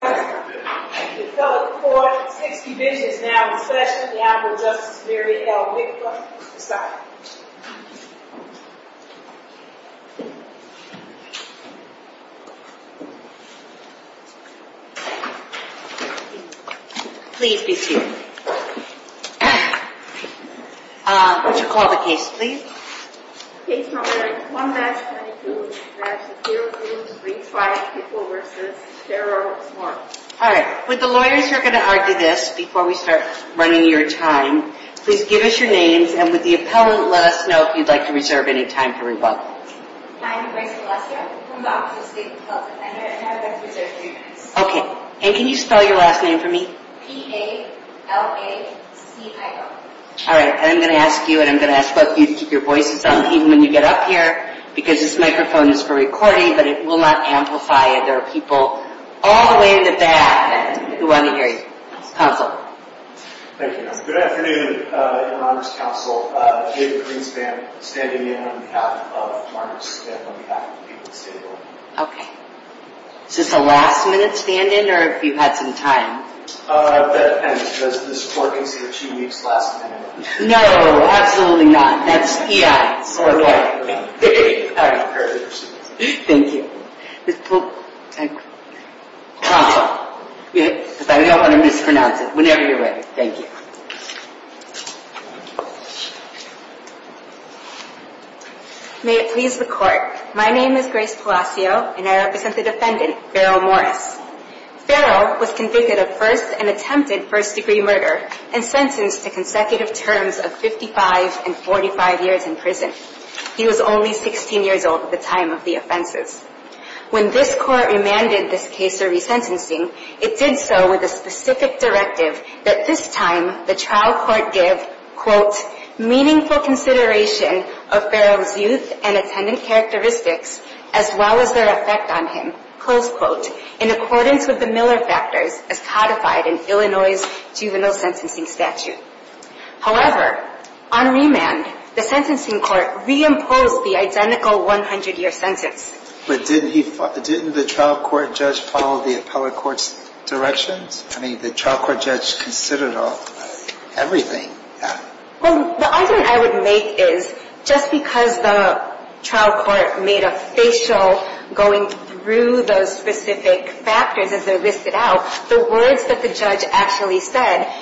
The fellow court has six divisions now in session on behalf of Justice Mary L. Wickler, aside. Please be seated. Would you call the case, please? Case No. 1-22. There are two groups, three quiet people versus zero smarts. Hi, I'm Gracie Lester. I'm from the Office of the State Health Defender, and I'd like to reserve three minutes. P-A-L-A-C-I-O I'm going to give you some, even when you get up here, because this microphone is for recording, but it will not amplify it. There are people all the way in the back who want to hear you. Counsel. Thank you. Good afternoon. In honor of counsel, David Greenspan, standing in on behalf of Morris and on behalf of the people of the state of Illinois. Okay. Is this a last-minute stand-in, or have you had some time? That depends. Does this work in two weeks' last minute? No, absolutely not. That's EI. Thank you. I don't want to mispronounce it. Whenever you're ready. Thank you. May it please the Court. My name is Grace Palacio, and I represent the defendant, Farrell Morris. Farrell was convicted of first and attempted first-degree murder and sentenced to consecutive terms of 55 and 45 years in prison. He was only 16 years old at the time of the offenses. When this Court remanded this case for resentencing, it did so with a specific directive that this time the trial court give, quote, meaningful consideration of Farrell's youth and attendant characteristics as well as their effect on him, close quote, in accordance with the Miller factors as codified in Illinois' juvenile sentencing statute. However, on remand, the sentencing court reimposed the identical 100-year sentence. But didn't the trial court judge follow the appellate court's directions? I mean, the trial court judge considered everything. Well, the argument I would make is just because the trial court made a facial going through those specific factors as they're listed out, the words that the judge actually said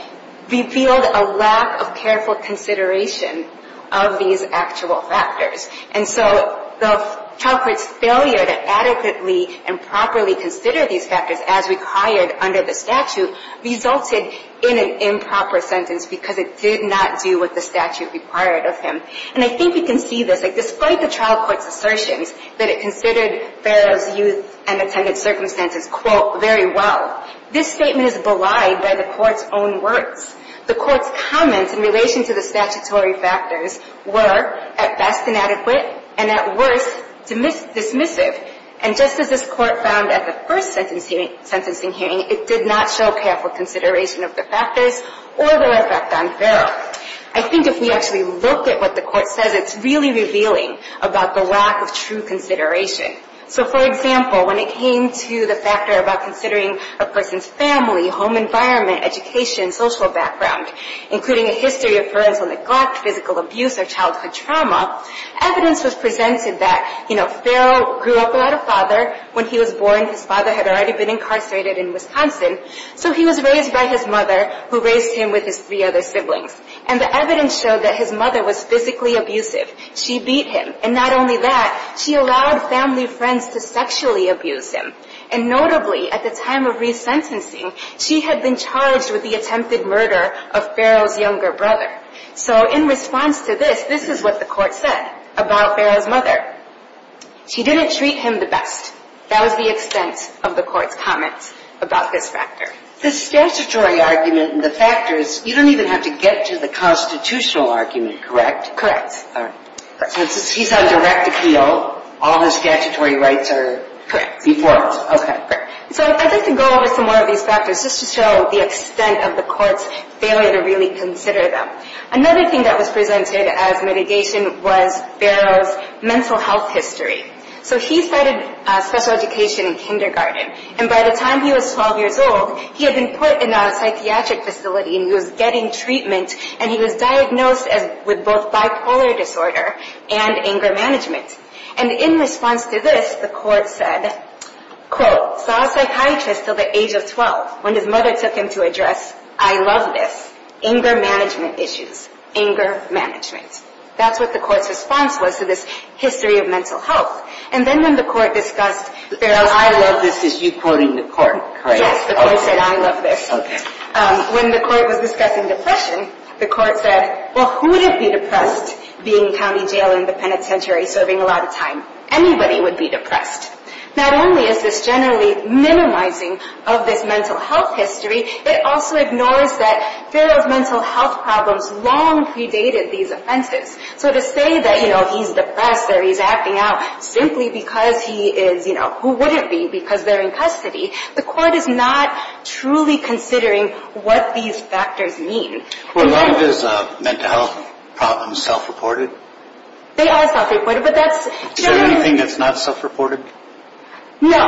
revealed a lack of careful consideration of these actual factors. And so the trial court's failure to adequately and properly consider these factors as required under the statute resulted in an improper sentence because it did not do what the statute required of him. And I think we can see this. Despite the trial court's assertions that it considered Farrell's youth and attendant circumstances, quote, very well, this statement is belied by the court's own words. The court's comments in relation to the statutory factors were, at best, inadequate, and at worst, dismissive. And just as this court found at the first sentencing hearing, it did not show careful consideration of the factors or their effect on Farrell. I think if we actually look at what the court says, it's really revealing about the lack of true consideration. So, for example, when it came to the factor about considering a person's family, home environment, education, social background, including a history of parental neglect, physical abuse, or childhood trauma, evidence was presented that, you know, Farrell grew up without a father. When he was born, his father had already been incarcerated in Wisconsin. So he was raised by his mother, who raised him with his three other siblings. And the evidence showed that his mother was physically abusive. She beat him. And not only that, she allowed family friends to sexually abuse him. And notably, at the time of resentencing, she had been charged with the attempted murder of Farrell's younger brother. So in response to this, this is what the court said about Farrell's mother. She didn't treat him the best. That was the extent of the court's comments about this factor. The statutory argument and the factors, you don't even have to get to the constitutional argument, correct? Correct. All right. Since he's on direct appeal, all his statutory rights are informed. Correct. Okay. So I'd like to go over some more of these factors just to show the extent of the court's failure to really consider them. Another thing that was presented as mitigation was Farrell's mental health history. So he started special education in kindergarten. And by the time he was 12 years old, he had been put in a psychiatric facility and he was getting treatment. And he was diagnosed with both bipolar disorder and anger management. And in response to this, the court said, quote, saw a psychiatrist until the age of 12 when his mother took him to address, I love this, anger management issues, anger management. That's what the court's response was to this history of mental health. And then when the court discussed Farrell's mother. I love this is you quoting the court, correct? Yes, the court said, I love this. Okay. When the court was discussing depression, the court said, well, who would it be depressed being in county jail in the penitentiary serving a lot of time? Anybody would be depressed. Not only is this generally minimizing of this mental health history, it also ignores that Farrell's mental health problems long predated these offenses. So to say that, you know, he's depressed or he's acting out simply because he is, you know, who would it be because they're in custody? The court is not truly considering what these factors mean. Well, are a lot of his mental health problems self-reported? They are self-reported, but that's generally. Is there anything that's not self-reported? No.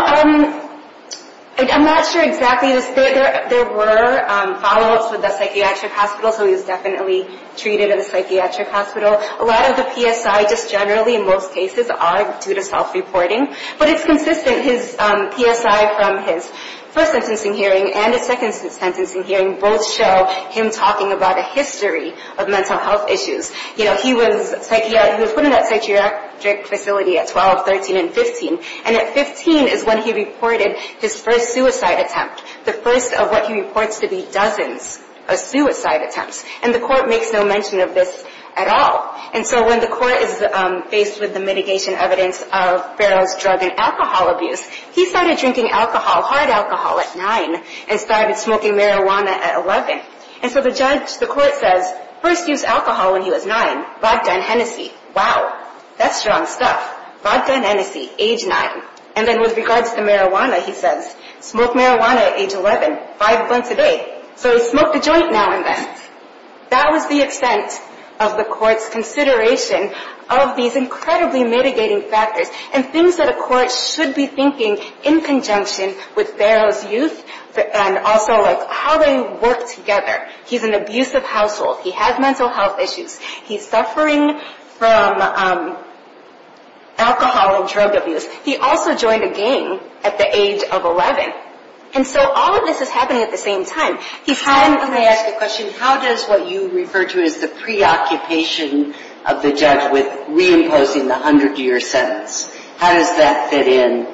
I'm not sure exactly. There were follow-ups with the psychiatric hospital. So he was definitely treated in the psychiatric hospital. A lot of the PSI just generally in most cases are due to self-reporting. But it's consistent. His PSI from his first sentencing hearing and his second sentencing hearing both show him talking about a history of mental health issues. You know, he was put in that psychiatric facility at 12, 13, and 15. And at 15 is when he reported his first suicide attempt, the first of what he reports to be dozens of suicide attempts. And the court makes no mention of this at all. And so when the court is faced with the mitigation evidence of Farrell's drug and alcohol abuse, he started drinking alcohol, hard alcohol, at 9 and started smoking marijuana at 11. And so the judge, the court says, first used alcohol when he was 9. Vodka and Hennessy. Wow, that's strong stuff. Vodka and Hennessy, age 9. And then with regards to marijuana, he says, smoked marijuana at age 11, five blunts a day. So he smoked a joint now and then. That was the extent of the court's consideration of these incredibly mitigating factors and things that a court should be thinking in conjunction with Farrell's youth and also how they work together. He's an abusive household. He has mental health issues. He's suffering from alcohol and drug abuse. He also joined a gang at the age of 11. And so all of this is happening at the same time. Let me ask a question. How does what you refer to as the preoccupation of the judge with reimposing the 100-year sentence, how does that fit in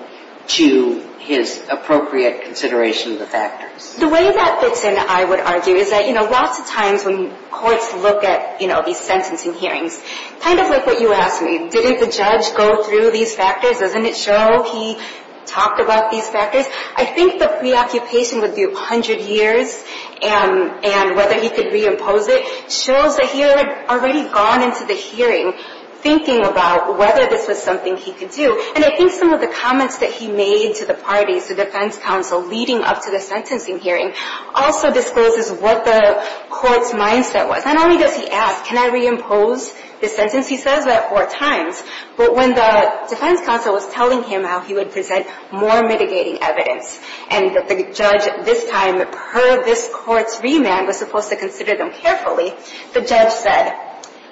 to his appropriate consideration of the factors? The way that fits in, I would argue, is that lots of times when courts look at these sentencing hearings, kind of like what you asked me, didn't the judge go through these factors? Doesn't it show he talked about these factors? I think the preoccupation with the 100 years and whether he could reimpose it shows that he had already gone into the hearing thinking about whether this was something he could do. And I think some of the comments that he made to the parties, the defense counsel leading up to the sentencing hearing, also discloses what the court's mindset was. Not only does he ask, can I reimpose this sentence? He says that four times. But when the defense counsel was telling him how he would present more mitigating evidence and that the judge this time, per this court's remand, was supposed to consider them carefully, the judge said,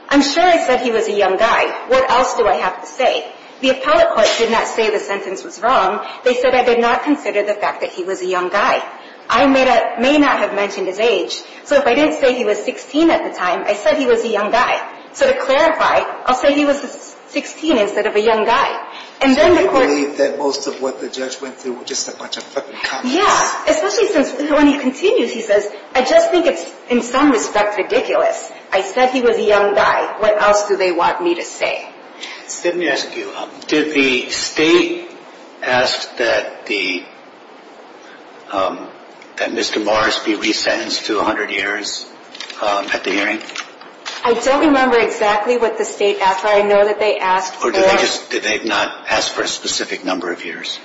I'm sure I said he was a young guy. What else do I have to say? The appellate court did not say the sentence was wrong. They said I did not consider the fact that he was a young guy. I may not have mentioned his age. So if I didn't say he was 16 at the time, I said he was a young guy. So to clarify, I'll say he was 16 instead of a young guy. So they believe that most of what the judge went through were just a bunch of fucking comments? Yeah. Especially since when he continues, he says, I just think it's in some respect ridiculous. I said he was a young guy. What else do they want me to say? Let me ask you, did the state ask that Mr. Morris be resentenced to 100 years at the hearing? I don't remember exactly what the state asked for. I know that they asked for. Or did they not ask for a specific number of years?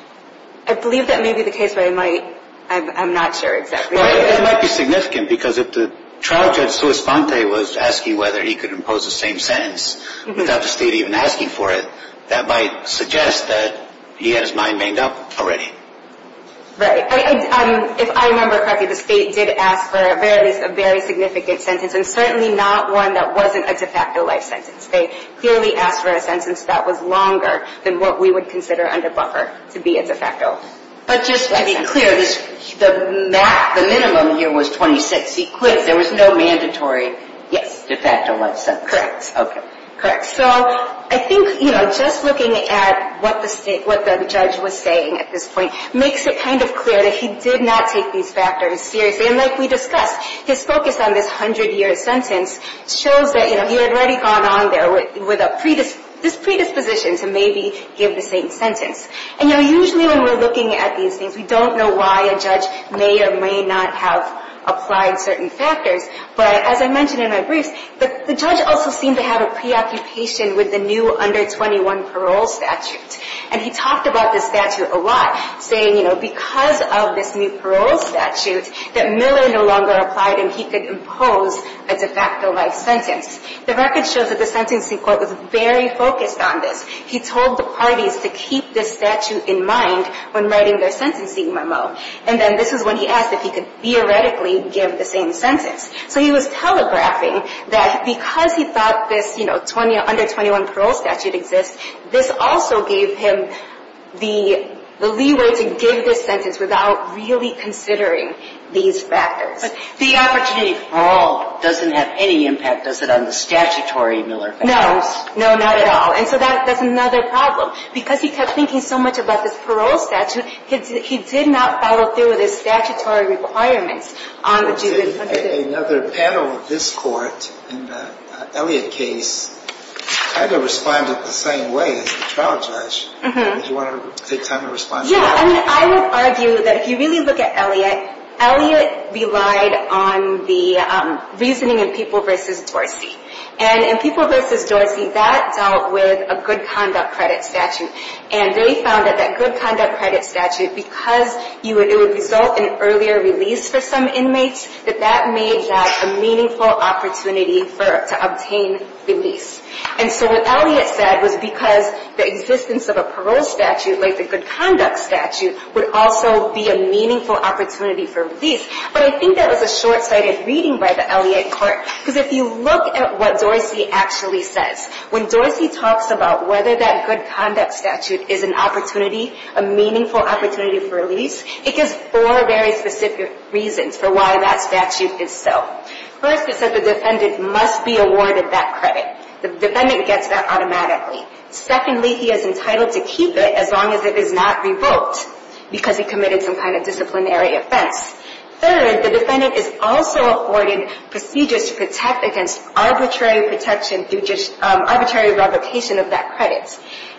I believe that may be the case, but I'm not sure exactly. It might be significant because if the trial judge, who was asking whether he could impose the same sentence without the state even asking for it, that might suggest that he had his mind made up already. Right. If I remember correctly, the state did ask for a very significant sentence and certainly not one that wasn't a de facto life sentence. They clearly asked for a sentence that was longer than what we would consider under buffer to be a de facto life sentence. But just to be clear, the minimum here was 26. He quit. There was no mandatory de facto life sentence. Correct. Okay. Correct. So I think just looking at what the judge was saying at this point makes it kind of clear that he did not take these factors seriously. And like we discussed, his focus on this 100-year sentence shows that, you know, he had already gone on there with this predisposition to maybe give the same sentence. And, you know, usually when we're looking at these things, we don't know why a judge may or may not have applied certain factors. But as I mentioned in my briefs, the judge also seemed to have a preoccupation with the new under 21 parole statute. And it was because of this new parole statute that Miller no longer applied and he could impose a de facto life sentence. The record shows that the sentencing court was very focused on this. He told the parties to keep this statute in mind when writing their sentencing memo. And then this is when he asked if he could theoretically give the same sentence. So he was telegraphing that because he thought this, you know, under 21 parole statute exists, this also gave him the leeway to give this sentence without really considering these factors. But the opportunity for parole doesn't have any impact, does it, on the statutory Miller factors? No. No, not at all. And so that's another problem. Because he kept thinking so much about this parole statute, he did not follow through with his statutory requirements on the judgment from the judge. Another panel of this court in the Elliott case kind of responded the same way as the trial judge. Do you want to take time to respond to that? Yeah. I mean, I would argue that if you really look at Elliott, Elliott relied on the reasoning in People v. Dorsey. And in People v. Dorsey, that dealt with a good conduct credit statute. And they found that that good conduct credit statute, because it would result in earlier release for some inmates, that that made that a meaningful opportunity to obtain release. And so what Elliott said was because the existence of a parole statute, like the good conduct statute, would also be a meaningful opportunity for release. But I think that was a short-sighted reading by the Elliott court. Because if you look at what Dorsey actually says, when Dorsey talks about whether that good conduct statute is an opportunity, a meaningful opportunity for release, it gives four very specific reasons for why that statute is so. First, it says the defendant must be awarded that credit. The defendant gets that automatically. Secondly, he is entitled to keep it as long as it is not revoked, because he committed some kind of disciplinary offense. Third, the defendant is also afforded procedures to protect against arbitrary protection, arbitrary revocation of that credit.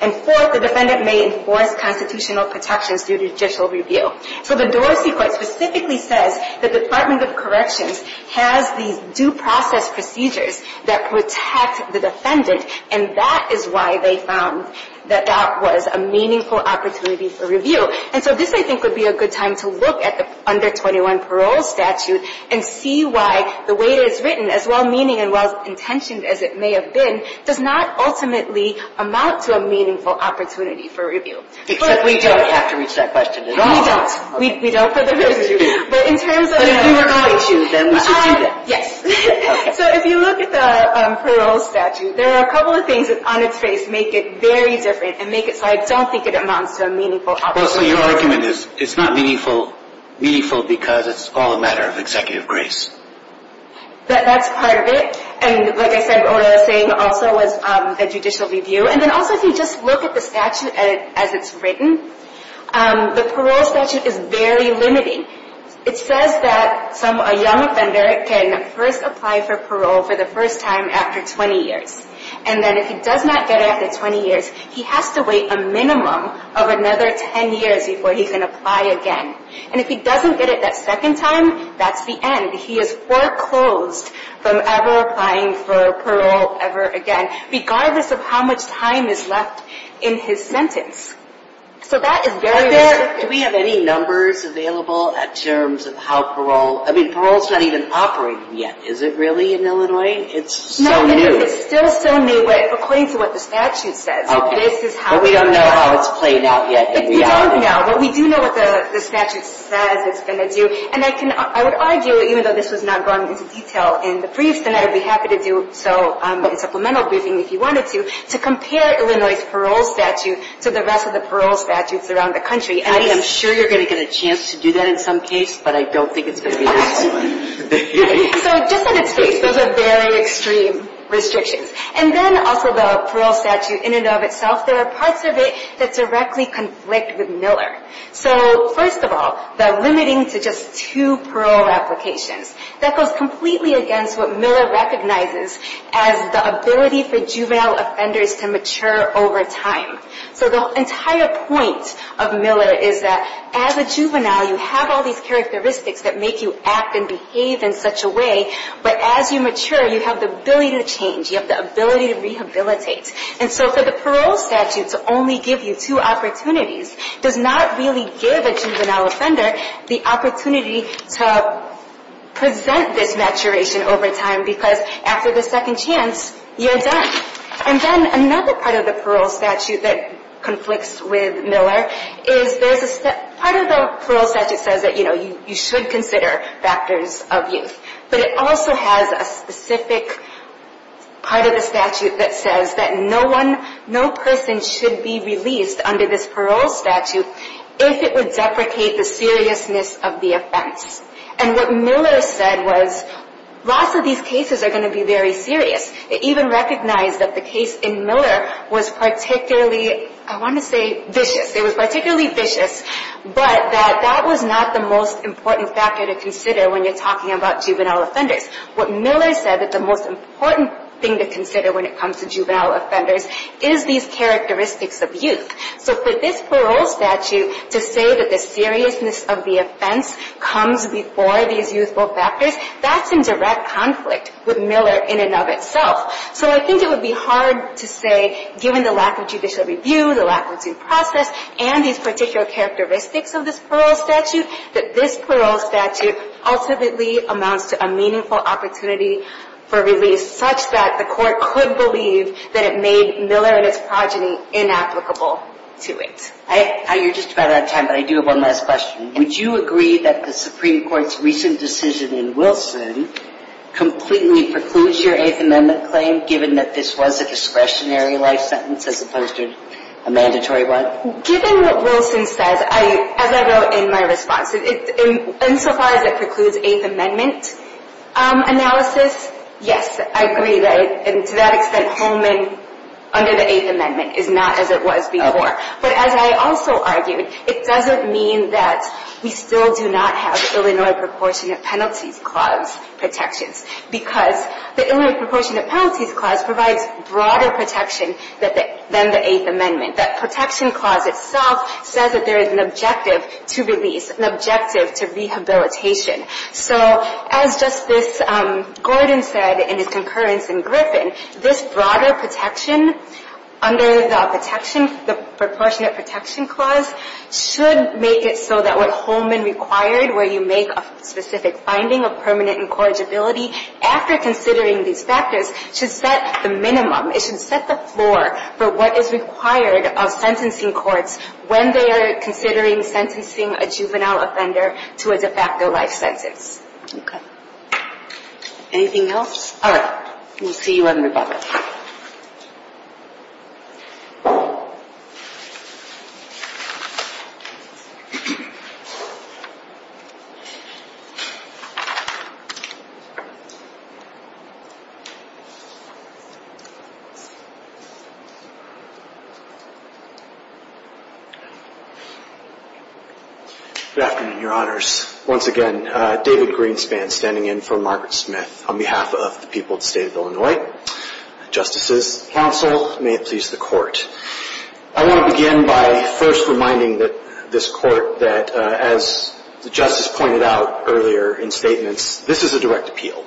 And fourth, the defendant may enforce constitutional protections due to judicial review. So the Dorsey court specifically says the Department of Corrections has these due process procedures that protect the defendant, and that is why they found that that was a meaningful opportunity for review. And so this, I think, would be a good time to look at the Under 21 Parole Statute and see why the way it is written, as well-meaning and well-intentioned as it may have been, does not ultimately amount to a meaningful opportunity for review. Except we don't have to reach that question at all. We don't. We don't for the record. But if you were going to, then we should do that. Yes. So if you look at the parole statute, there are a couple of things that on its face make it very different and make it so I don't think it amounts to a meaningful opportunity. So your argument is it's not meaningful because it's all a matter of executive grace. That's part of it. And like I said, what I was saying also was the judicial review. And then also if you just look at the statute as it's written, the parole statute is very limiting. It says that a young offender can first apply for parole for the first time after 20 years. And then if he does not get it after 20 years, he has to wait a minimum of another 10 years before he can apply again. And if he doesn't get it that second time, that's the end. He is foreclosed from ever applying for parole ever again, regardless of how much time is left in his sentence. So that is very limiting. Do we have any numbers available in terms of how parole, I mean parole is not even operating yet. Is it really in Illinois? It's so new. No, it's still so new, but according to what the statute says. But we don't know how it's played out yet in reality. We don't know. But we do know what the statute says it's going to do. And I would argue, even though this was not going into detail in the briefs, and I would be happy to do so in supplemental briefing if you wanted to, to compare Illinois' parole statute to the rest of the parole statutes around the country. I am sure you're going to get a chance to do that in some case, but I don't think it's going to be this one. So just in its case, those are very extreme restrictions. And then also the parole statute in and of itself, there are parts of it that directly conflict with Miller. So first of all, the limiting to just two parole applications, that goes completely against what Miller recognizes as the ability for juvenile offenders to mature over time. So the entire point of Miller is that as a juvenile, you have all these characteristics that make you act and behave in such a way, but as you mature, you have the ability to change. You have the ability to rehabilitate. And so for the parole statute to only give you two opportunities does not really give a juvenile offender the opportunity to present this maturation over time because after the second chance, you're done. And then another part of the parole statute that conflicts with Miller is part of the parole statute says that you should consider factors of youth, but it also has a specific part of the statute that says that no person should be released under this parole statute if it would deprecate the seriousness of the offense. And what Miller said was lots of these cases are going to be very serious. It even recognized that the case in Miller was particularly, I want to say vicious. It was particularly vicious, but that that was not the most important factor to consider when you're talking about juvenile offenders. What Miller said that the most important thing to consider when it comes to juvenile offenders is these characteristics of youth. So for this parole statute to say that the seriousness of the offense comes before these youthful factors, that's in direct conflict with Miller in and of itself. So I think it would be hard to say, given the lack of judicial review, the lack of due process, and these particular characteristics of this parole statute, that this parole statute ultimately amounts to a meaningful opportunity for release such that the court could believe that it made Miller and his progeny inapplicable to it. You're just about out of time, but I do have one last question. Would you agree that the Supreme Court's recent decision in Wilson completely precludes your Eighth Amendment claim given that this was a discretionary life sentence as opposed to a mandatory one? Given what Wilson says, as I wrote in my response, insofar as it precludes Eighth Amendment analysis, yes, I agree. To that extent, Holman under the Eighth Amendment is not as it was before. But as I also argued, it doesn't mean that we still do not have Illinois Proportionate Penalties Clause protections because the Illinois Proportionate Penalties Clause provides broader protection than the Eighth Amendment. That protection clause itself says that there is an objective to release, an objective to rehabilitation. So as Justice Gordon said in his concurrence in Griffin, this broader protection under the protection, the Proportionate Protection Clause, should make it so that what Holman required, where you make a specific finding of permanent incorrigibility, after considering these factors, should set the minimum, it should set the floor for what is required of sentencing courts when they are considering sentencing a juvenile offender to a de facto life sentence. Okay. Anything else? All right. We'll see you in a minute. Good afternoon, Your Honors. Once again, David Greenspan standing in for Margaret Smith on behalf of the people of the State of Illinois. Justices, counsel, may it please the Court. I want to begin by first reminding this Court that as the Justice pointed out earlier in statements, this is a direct appeal.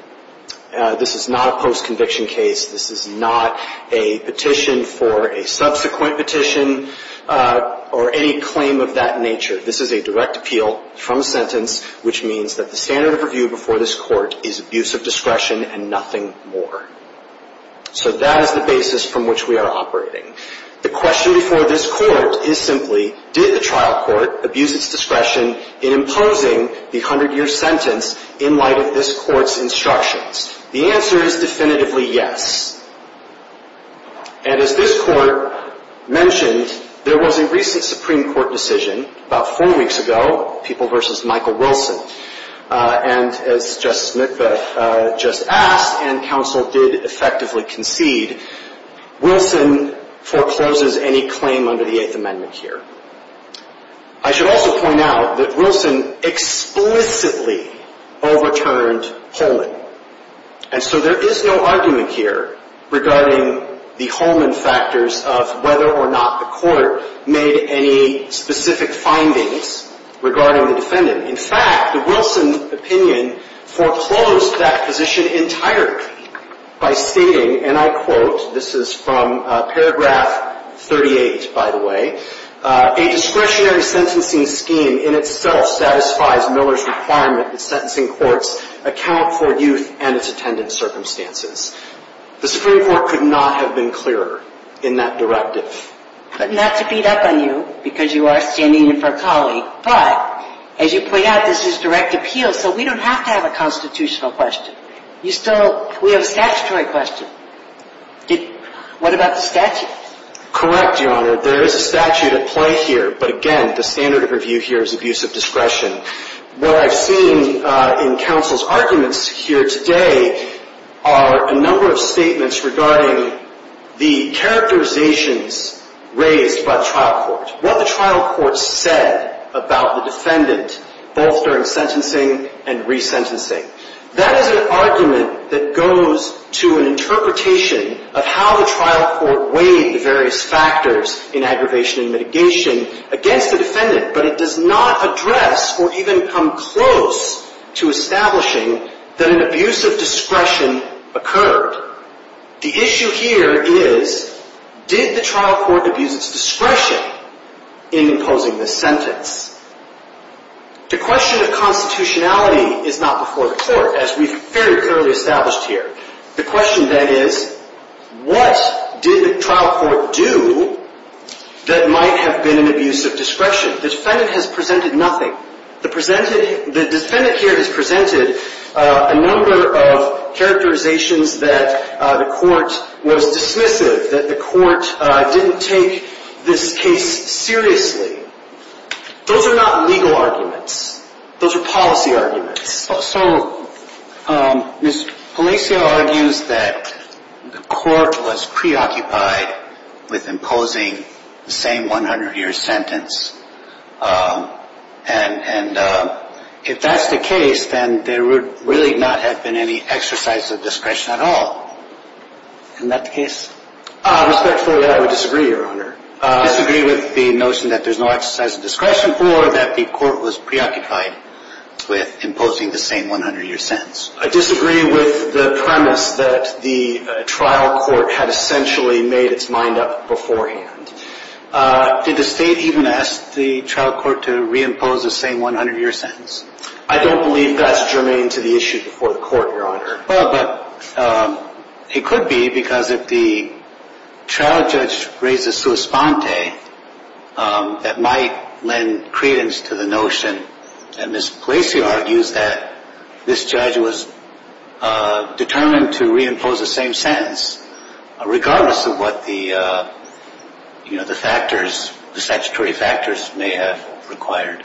This is not a post-conviction case. This is not a petition for a subsequent petition or any claim of that nature. This is a direct appeal from a sentence, which means that the standard of review before this Court is abuse of discretion and nothing more. So that is the basis from which we are operating. The question before this Court is simply, did the trial court abuse its discretion in imposing the 100-year sentence in light of this Court's instructions? The answer is definitively yes. And as this Court mentioned, there was a recent Supreme Court decision about four weeks ago, People v. Michael Wilson, and as Justice Smith just asked and counsel did effectively concede, Wilson forecloses any claim under the Eighth Amendment here. I should also point out that Wilson explicitly overturned Holman. And so there is no argument here regarding the Holman factors of whether or not the Court made any specific findings regarding the defendant. In fact, the Wilson opinion foreclosed that position entirely by stating, and I quote, this is from paragraph 38, by the way, a discretionary sentencing scheme in itself satisfies Miller's requirement that sentencing courts account for youth and its attendant circumstances. The Supreme Court could not have been clearer in that directive. But not to beat up on you, because you are standing in for a colleague, but as you point out, this is direct appeal, so we don't have to have a constitutional question. We have a statutory question. What about the statute? Correct, Your Honor. There is a statute at play here, but again, the standard of review here is abuse of discretion. What I've seen in counsel's arguments here today are a number of statements regarding the characterizations raised by the trial court, what the trial court said about the defendant, both during sentencing and resentencing. That is an argument that goes to an interpretation of how the trial court weighed the various factors in aggravation and mitigation against the defendant, but it does not address or even come close to establishing that an abuse of discretion occurred. The issue here is, did the trial court abuse its discretion in imposing this sentence? The question of constitutionality is not before the court, as we've very clearly established here. The question then is, what did the trial court do that might have been an abuse of discretion? The defendant has presented nothing. The defendant here has presented a number of characterizations that the court was dismissive, that the court didn't take this case seriously. Those are not legal arguments. Those are policy arguments. So, Ms. Palacio argues that the court was preoccupied with imposing the same 100-year sentence, and if that's the case, then there would really not have been any exercise of discretion at all. Isn't that the case? Respectfully, I would disagree, Your Honor. I disagree with the notion that there's no exercise of discretion or that the court was preoccupied with imposing the same 100-year sentence. I disagree with the premise that the trial court had essentially made its mind up beforehand. Did the State even ask the trial court to reimpose the same 100-year sentence? I don't believe that's germane to the issue before the court, Your Honor. Well, but it could be because if the trial judge raises sua sponte, that might lend credence to the notion that Ms. Palacio argues that this judge was determined to reimpose the same sentence, regardless of what the statutory factors may have required.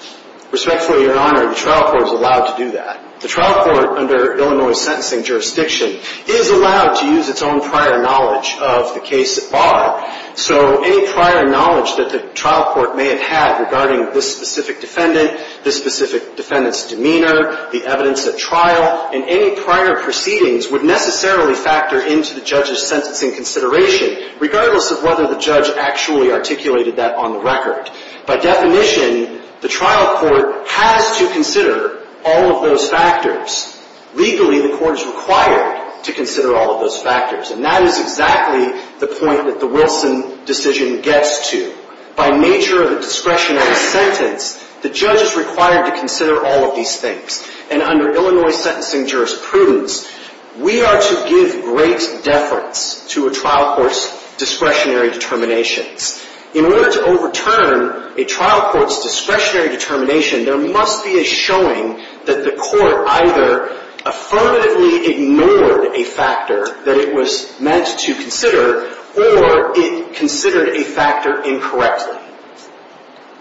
Respectfully, Your Honor, the trial court is allowed to do that. The trial court under Illinois sentencing jurisdiction is allowed to use its own prior knowledge of the case at bar. So any prior knowledge that the trial court may have had regarding this specific defendant, this specific defendant's demeanor, the evidence at trial, and any prior proceedings would necessarily factor into the judge's sentencing consideration, regardless of whether the judge actually articulated that on the record. By definition, the trial court has to consider all of those factors. Legally, the court is required to consider all of those factors, and that is exactly the point that the Wilson decision gets to. By nature of a discretionary sentence, the judge is required to consider all of these things. And under Illinois sentencing jurisprudence, we are to give great deference to a trial court's discretionary determinations. In order to overturn a trial court's discretionary determination, there must be a showing that the court either affirmatively ignored a factor that it was meant to consider, or it considered a factor incorrectly.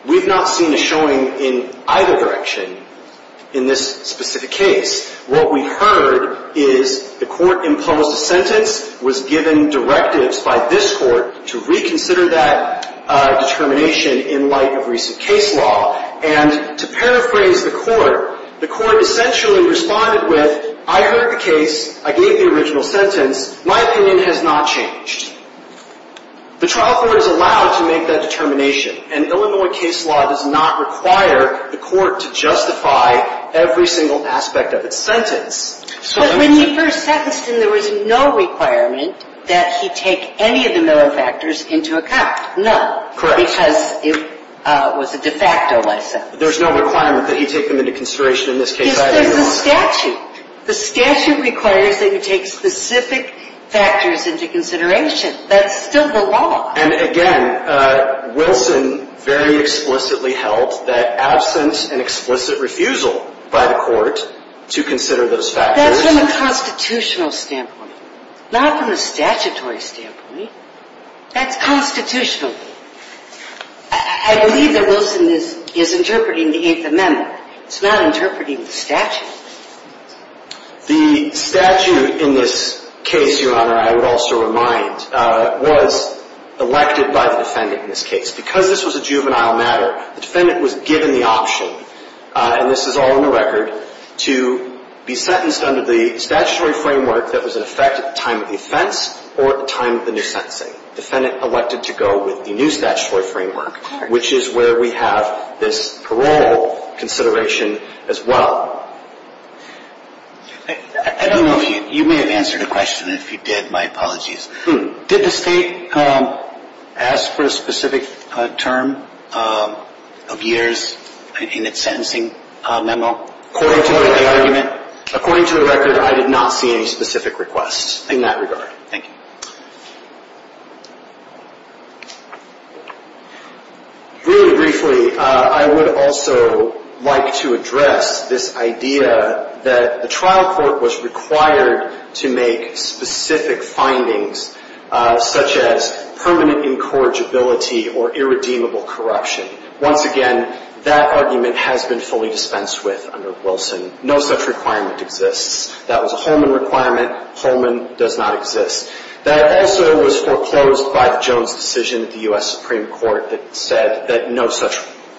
We've not seen a showing in either direction in this specific case. The Illinois case was given directives by this court to reconsider that determination in light of recent case law. And to paraphrase the court, the court essentially responded with, I heard the case, I gave the original sentence, my opinion has not changed. The trial court is allowed to make that determination, and Illinois case law does not require the court to justify every single aspect of its sentence. But when he first sentenced him, there was no requirement that he take any of the Miller factors into account. None. Correct. Because it was a de facto license. There's no requirement that he take them into consideration in this case? Yes, there's the statute. The statute requires that you take specific factors into consideration. That's still the law. And again, Wilson very explicitly held that absence and explicit refusal by the court to consider those factors. That's from a constitutional standpoint, not from a statutory standpoint. That's constitutional. I believe that Wilson is interpreting the Eighth Amendment. It's not interpreting the statute. The statute in this case, Your Honor, I would also remind, was elected by the defendant in this case. Because this was a juvenile matter, the defendant was given the option, and this is all in the record, to be sentenced under the statutory framework that was in effect at the time of the offense or at the time of the new sentencing. Defendant elected to go with the new statutory framework, which is where we have this parole consideration as well. I don't know if you may have answered a question. If you did, my apologies. Did the state ask for a specific term of years in its sentencing memo? According to the record, I did not see any specific requests in that regard. Thank you. Really briefly, I would also like to address this idea that the trial court was required to make specific findings such as permanent incorrigibility or irredeemable corruption. Once again, that argument has been fully dispensed with under Wilson. No such requirement exists. That was a Holman requirement. Holman does not exist. That also was foreclosed by the Jones decision at the U.S. Supreme Court that said that no such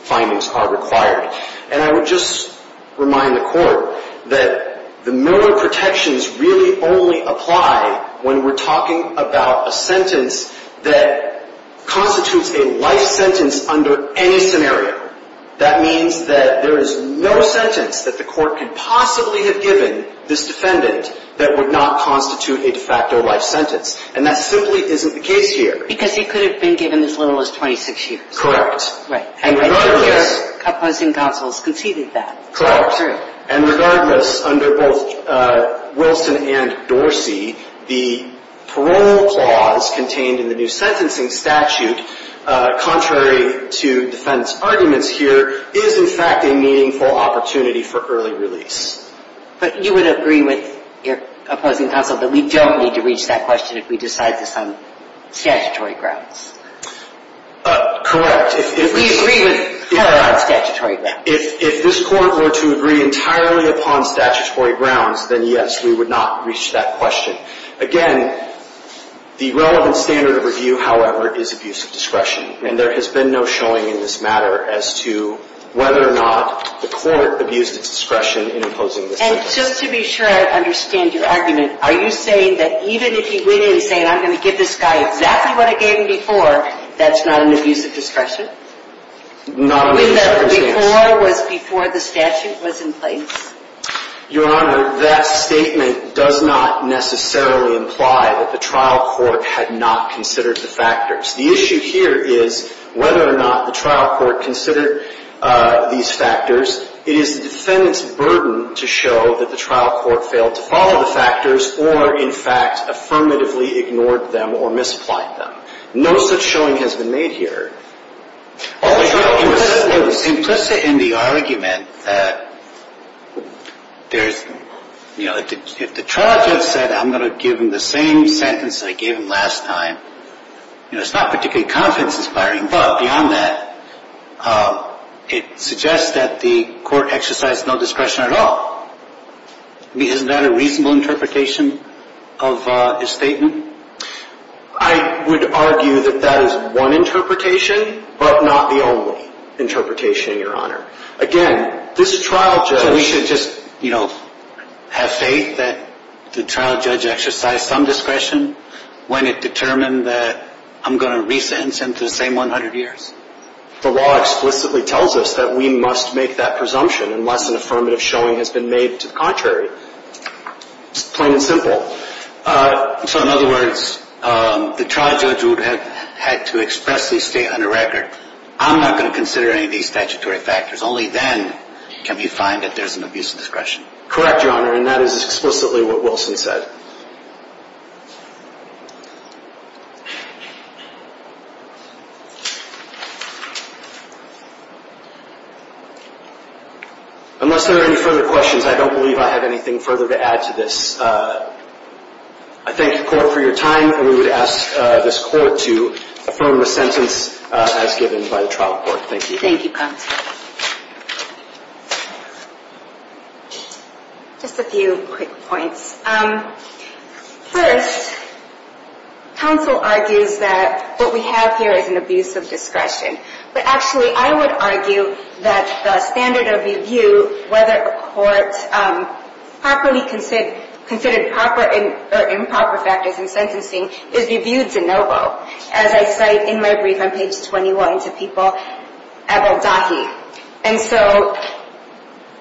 findings are required. And I would just remind the Court that the memo of protections really only apply when we're talking about a sentence that constitutes a life sentence under any scenario. That means that there is no sentence that the Court could possibly have given this defendant that would not constitute a de facto life sentence. And that simply isn't the case here. Because he could have been given as little as 26 years. Correct. And your opposing counsel has conceded that. Correct. And regardless, under both Wilson and Dorsey, the parole clause contained in the new sentencing statute, contrary to defendant's arguments here, is in fact a meaningful opportunity for early release. But you would agree with your opposing counsel that we don't need to reach that question if we decide this on statutory grounds. Correct. If we agree with parole on statutory grounds. If this Court were to agree entirely upon statutory grounds, then yes, we would not reach that question. Again, the relevant standard of review, however, is abuse of discretion. And there has been no showing in this matter as to whether or not the Court abused its discretion in imposing this sentence. And just to be sure I understand your argument, are you saying that even if he went in saying, I'm going to give this guy exactly what I gave him before, that's not an abuse of discretion? Not in this circumstance. When the before was before the statute was in place? Your Honor, that statement does not necessarily imply that the trial court had not considered the factors. The issue here is whether or not the trial court considered these factors. It is the defendant's burden to show that the trial court failed to follow the factors or, in fact, affirmatively ignored them or misapplied them. No such showing has been made here. Implicit in the argument that there's, you know, if the trial judge said I'm going to give him the same sentence that I gave him last time, you know, it's not particularly confidence inspiring. But beyond that, it suggests that the court exercised no discretion at all. I mean, isn't that a reasonable interpretation of his statement? I would argue that that is one interpretation, but not the only interpretation, Your Honor. Again, this trial judge... So we should just, you know, have faith that the trial judge exercised some discretion when it determined that I'm going to re-sentence him to the same 100 years? The law explicitly tells us that we must make that presumption unless an affirmative showing has been made to the contrary. It's plain and simple. So, in other words, the trial judge would have had to expressly state on a record, I'm not going to consider any of these statutory factors. Only then can we find that there's an abuse of discretion. Correct, Your Honor, and that is explicitly what Wilson said. Yes, sir. Unless there are any further questions, I don't believe I have anything further to add to this. I thank the court for your time, and we would ask this court to affirm the sentence as given by the trial court. Thank you. Thank you, counsel. Just a few quick points. First, counsel argues that what we have here is an abuse of discretion. But actually, I would argue that the standard of review, whether a court properly considered proper or improper factors in sentencing, is reviewed de novo. As I cite in my brief on page 21 to people, Ebaldahi. And so,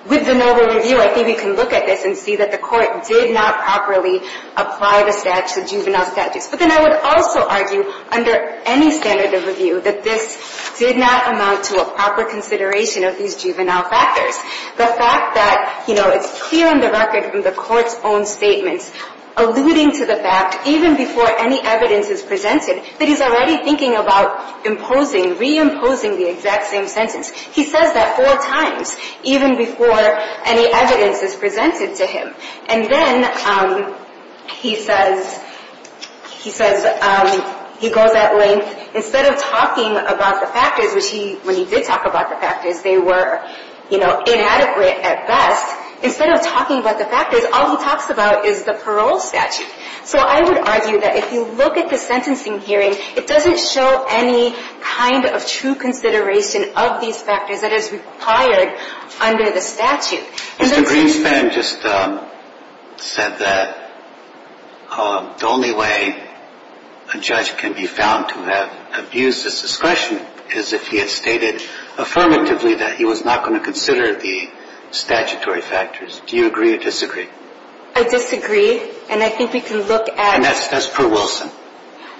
with de novo review, I think we can look at this and see that the court did not properly apply the juvenile statutes. But then I would also argue, under any standard of review, that this did not amount to a proper consideration of these juvenile factors. The fact that, you know, it's clear on the record from the court's own statements, alluding to the fact, even before any evidence is presented, that he's already thinking about imposing, re-imposing the exact same sentence. He says that four times, even before any evidence is presented to him. And then he says, he goes at length, instead of talking about the factors, which he, when he did talk about the factors, they were, you know, inadequate at best. Instead of talking about the factors, all he talks about is the parole statute. So I would argue that if you look at the sentencing hearing, it doesn't show any kind of true consideration of these factors that is required under the statute. Mr. Greenspan just said that the only way a judge can be found to have abused his discretion is if he had stated affirmatively that he was not going to consider the statutory factors. Do you agree or disagree? I disagree. And I think we can look at... And that's per Wilson.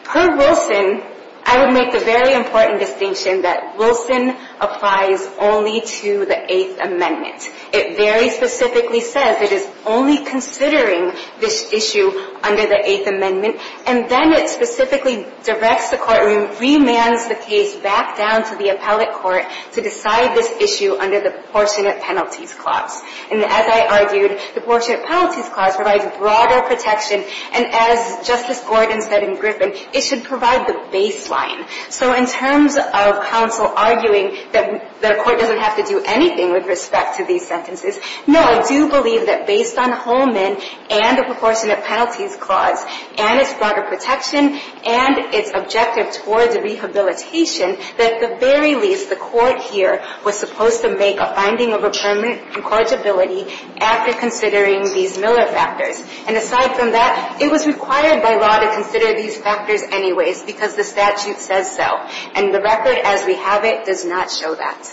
Per Wilson, I would make the very important distinction that Wilson applies only to the Eighth Amendment. It very specifically says it is only considering this issue under the Eighth Amendment. And then it specifically directs the courtroom, remands the case back down to the appellate court to decide this issue under the Proportionate Penalties Clause. And as I argued, the Proportionate Penalties Clause provides broader protection. And as Justice Gordon said in Griffin, it should provide the baseline. So in terms of counsel arguing that the court doesn't have to do anything with respect to these sentences, no, I do believe that based on Holman and the Proportionate Penalties Clause and its broader protection and its objective towards rehabilitation, that at the very least the court here was supposed to make a finding of a permanent incorrigibility after considering these Miller factors. And aside from that, it was required by law to consider these factors anyways because the statute says so. And the record as we have it does not show that.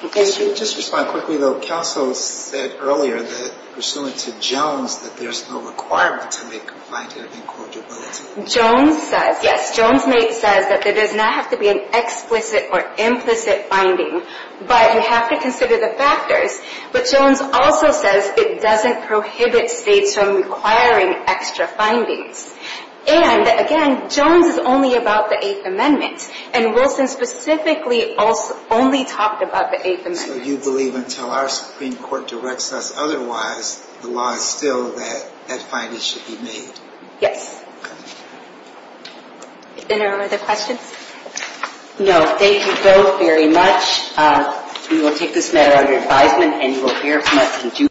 If I could just respond quickly. The counsel said earlier that pursuant to Jones that there's no requirement to make a finding of incorrigibility. Jones says, yes, Jones says that there does not have to be an explicit or implicit finding, but you have to consider the factors. But Jones also says it doesn't prohibit states from requiring extra findings. And, again, Jones is only about the Eighth Amendment, and Wilson specifically only talked about the Eighth Amendment. So you believe until our Supreme Court directs us otherwise, the law is still that that finding should be made? Yes. Any other questions? No. Thank you both very much. We will take this matter under advisement, and you will hear from us in due course.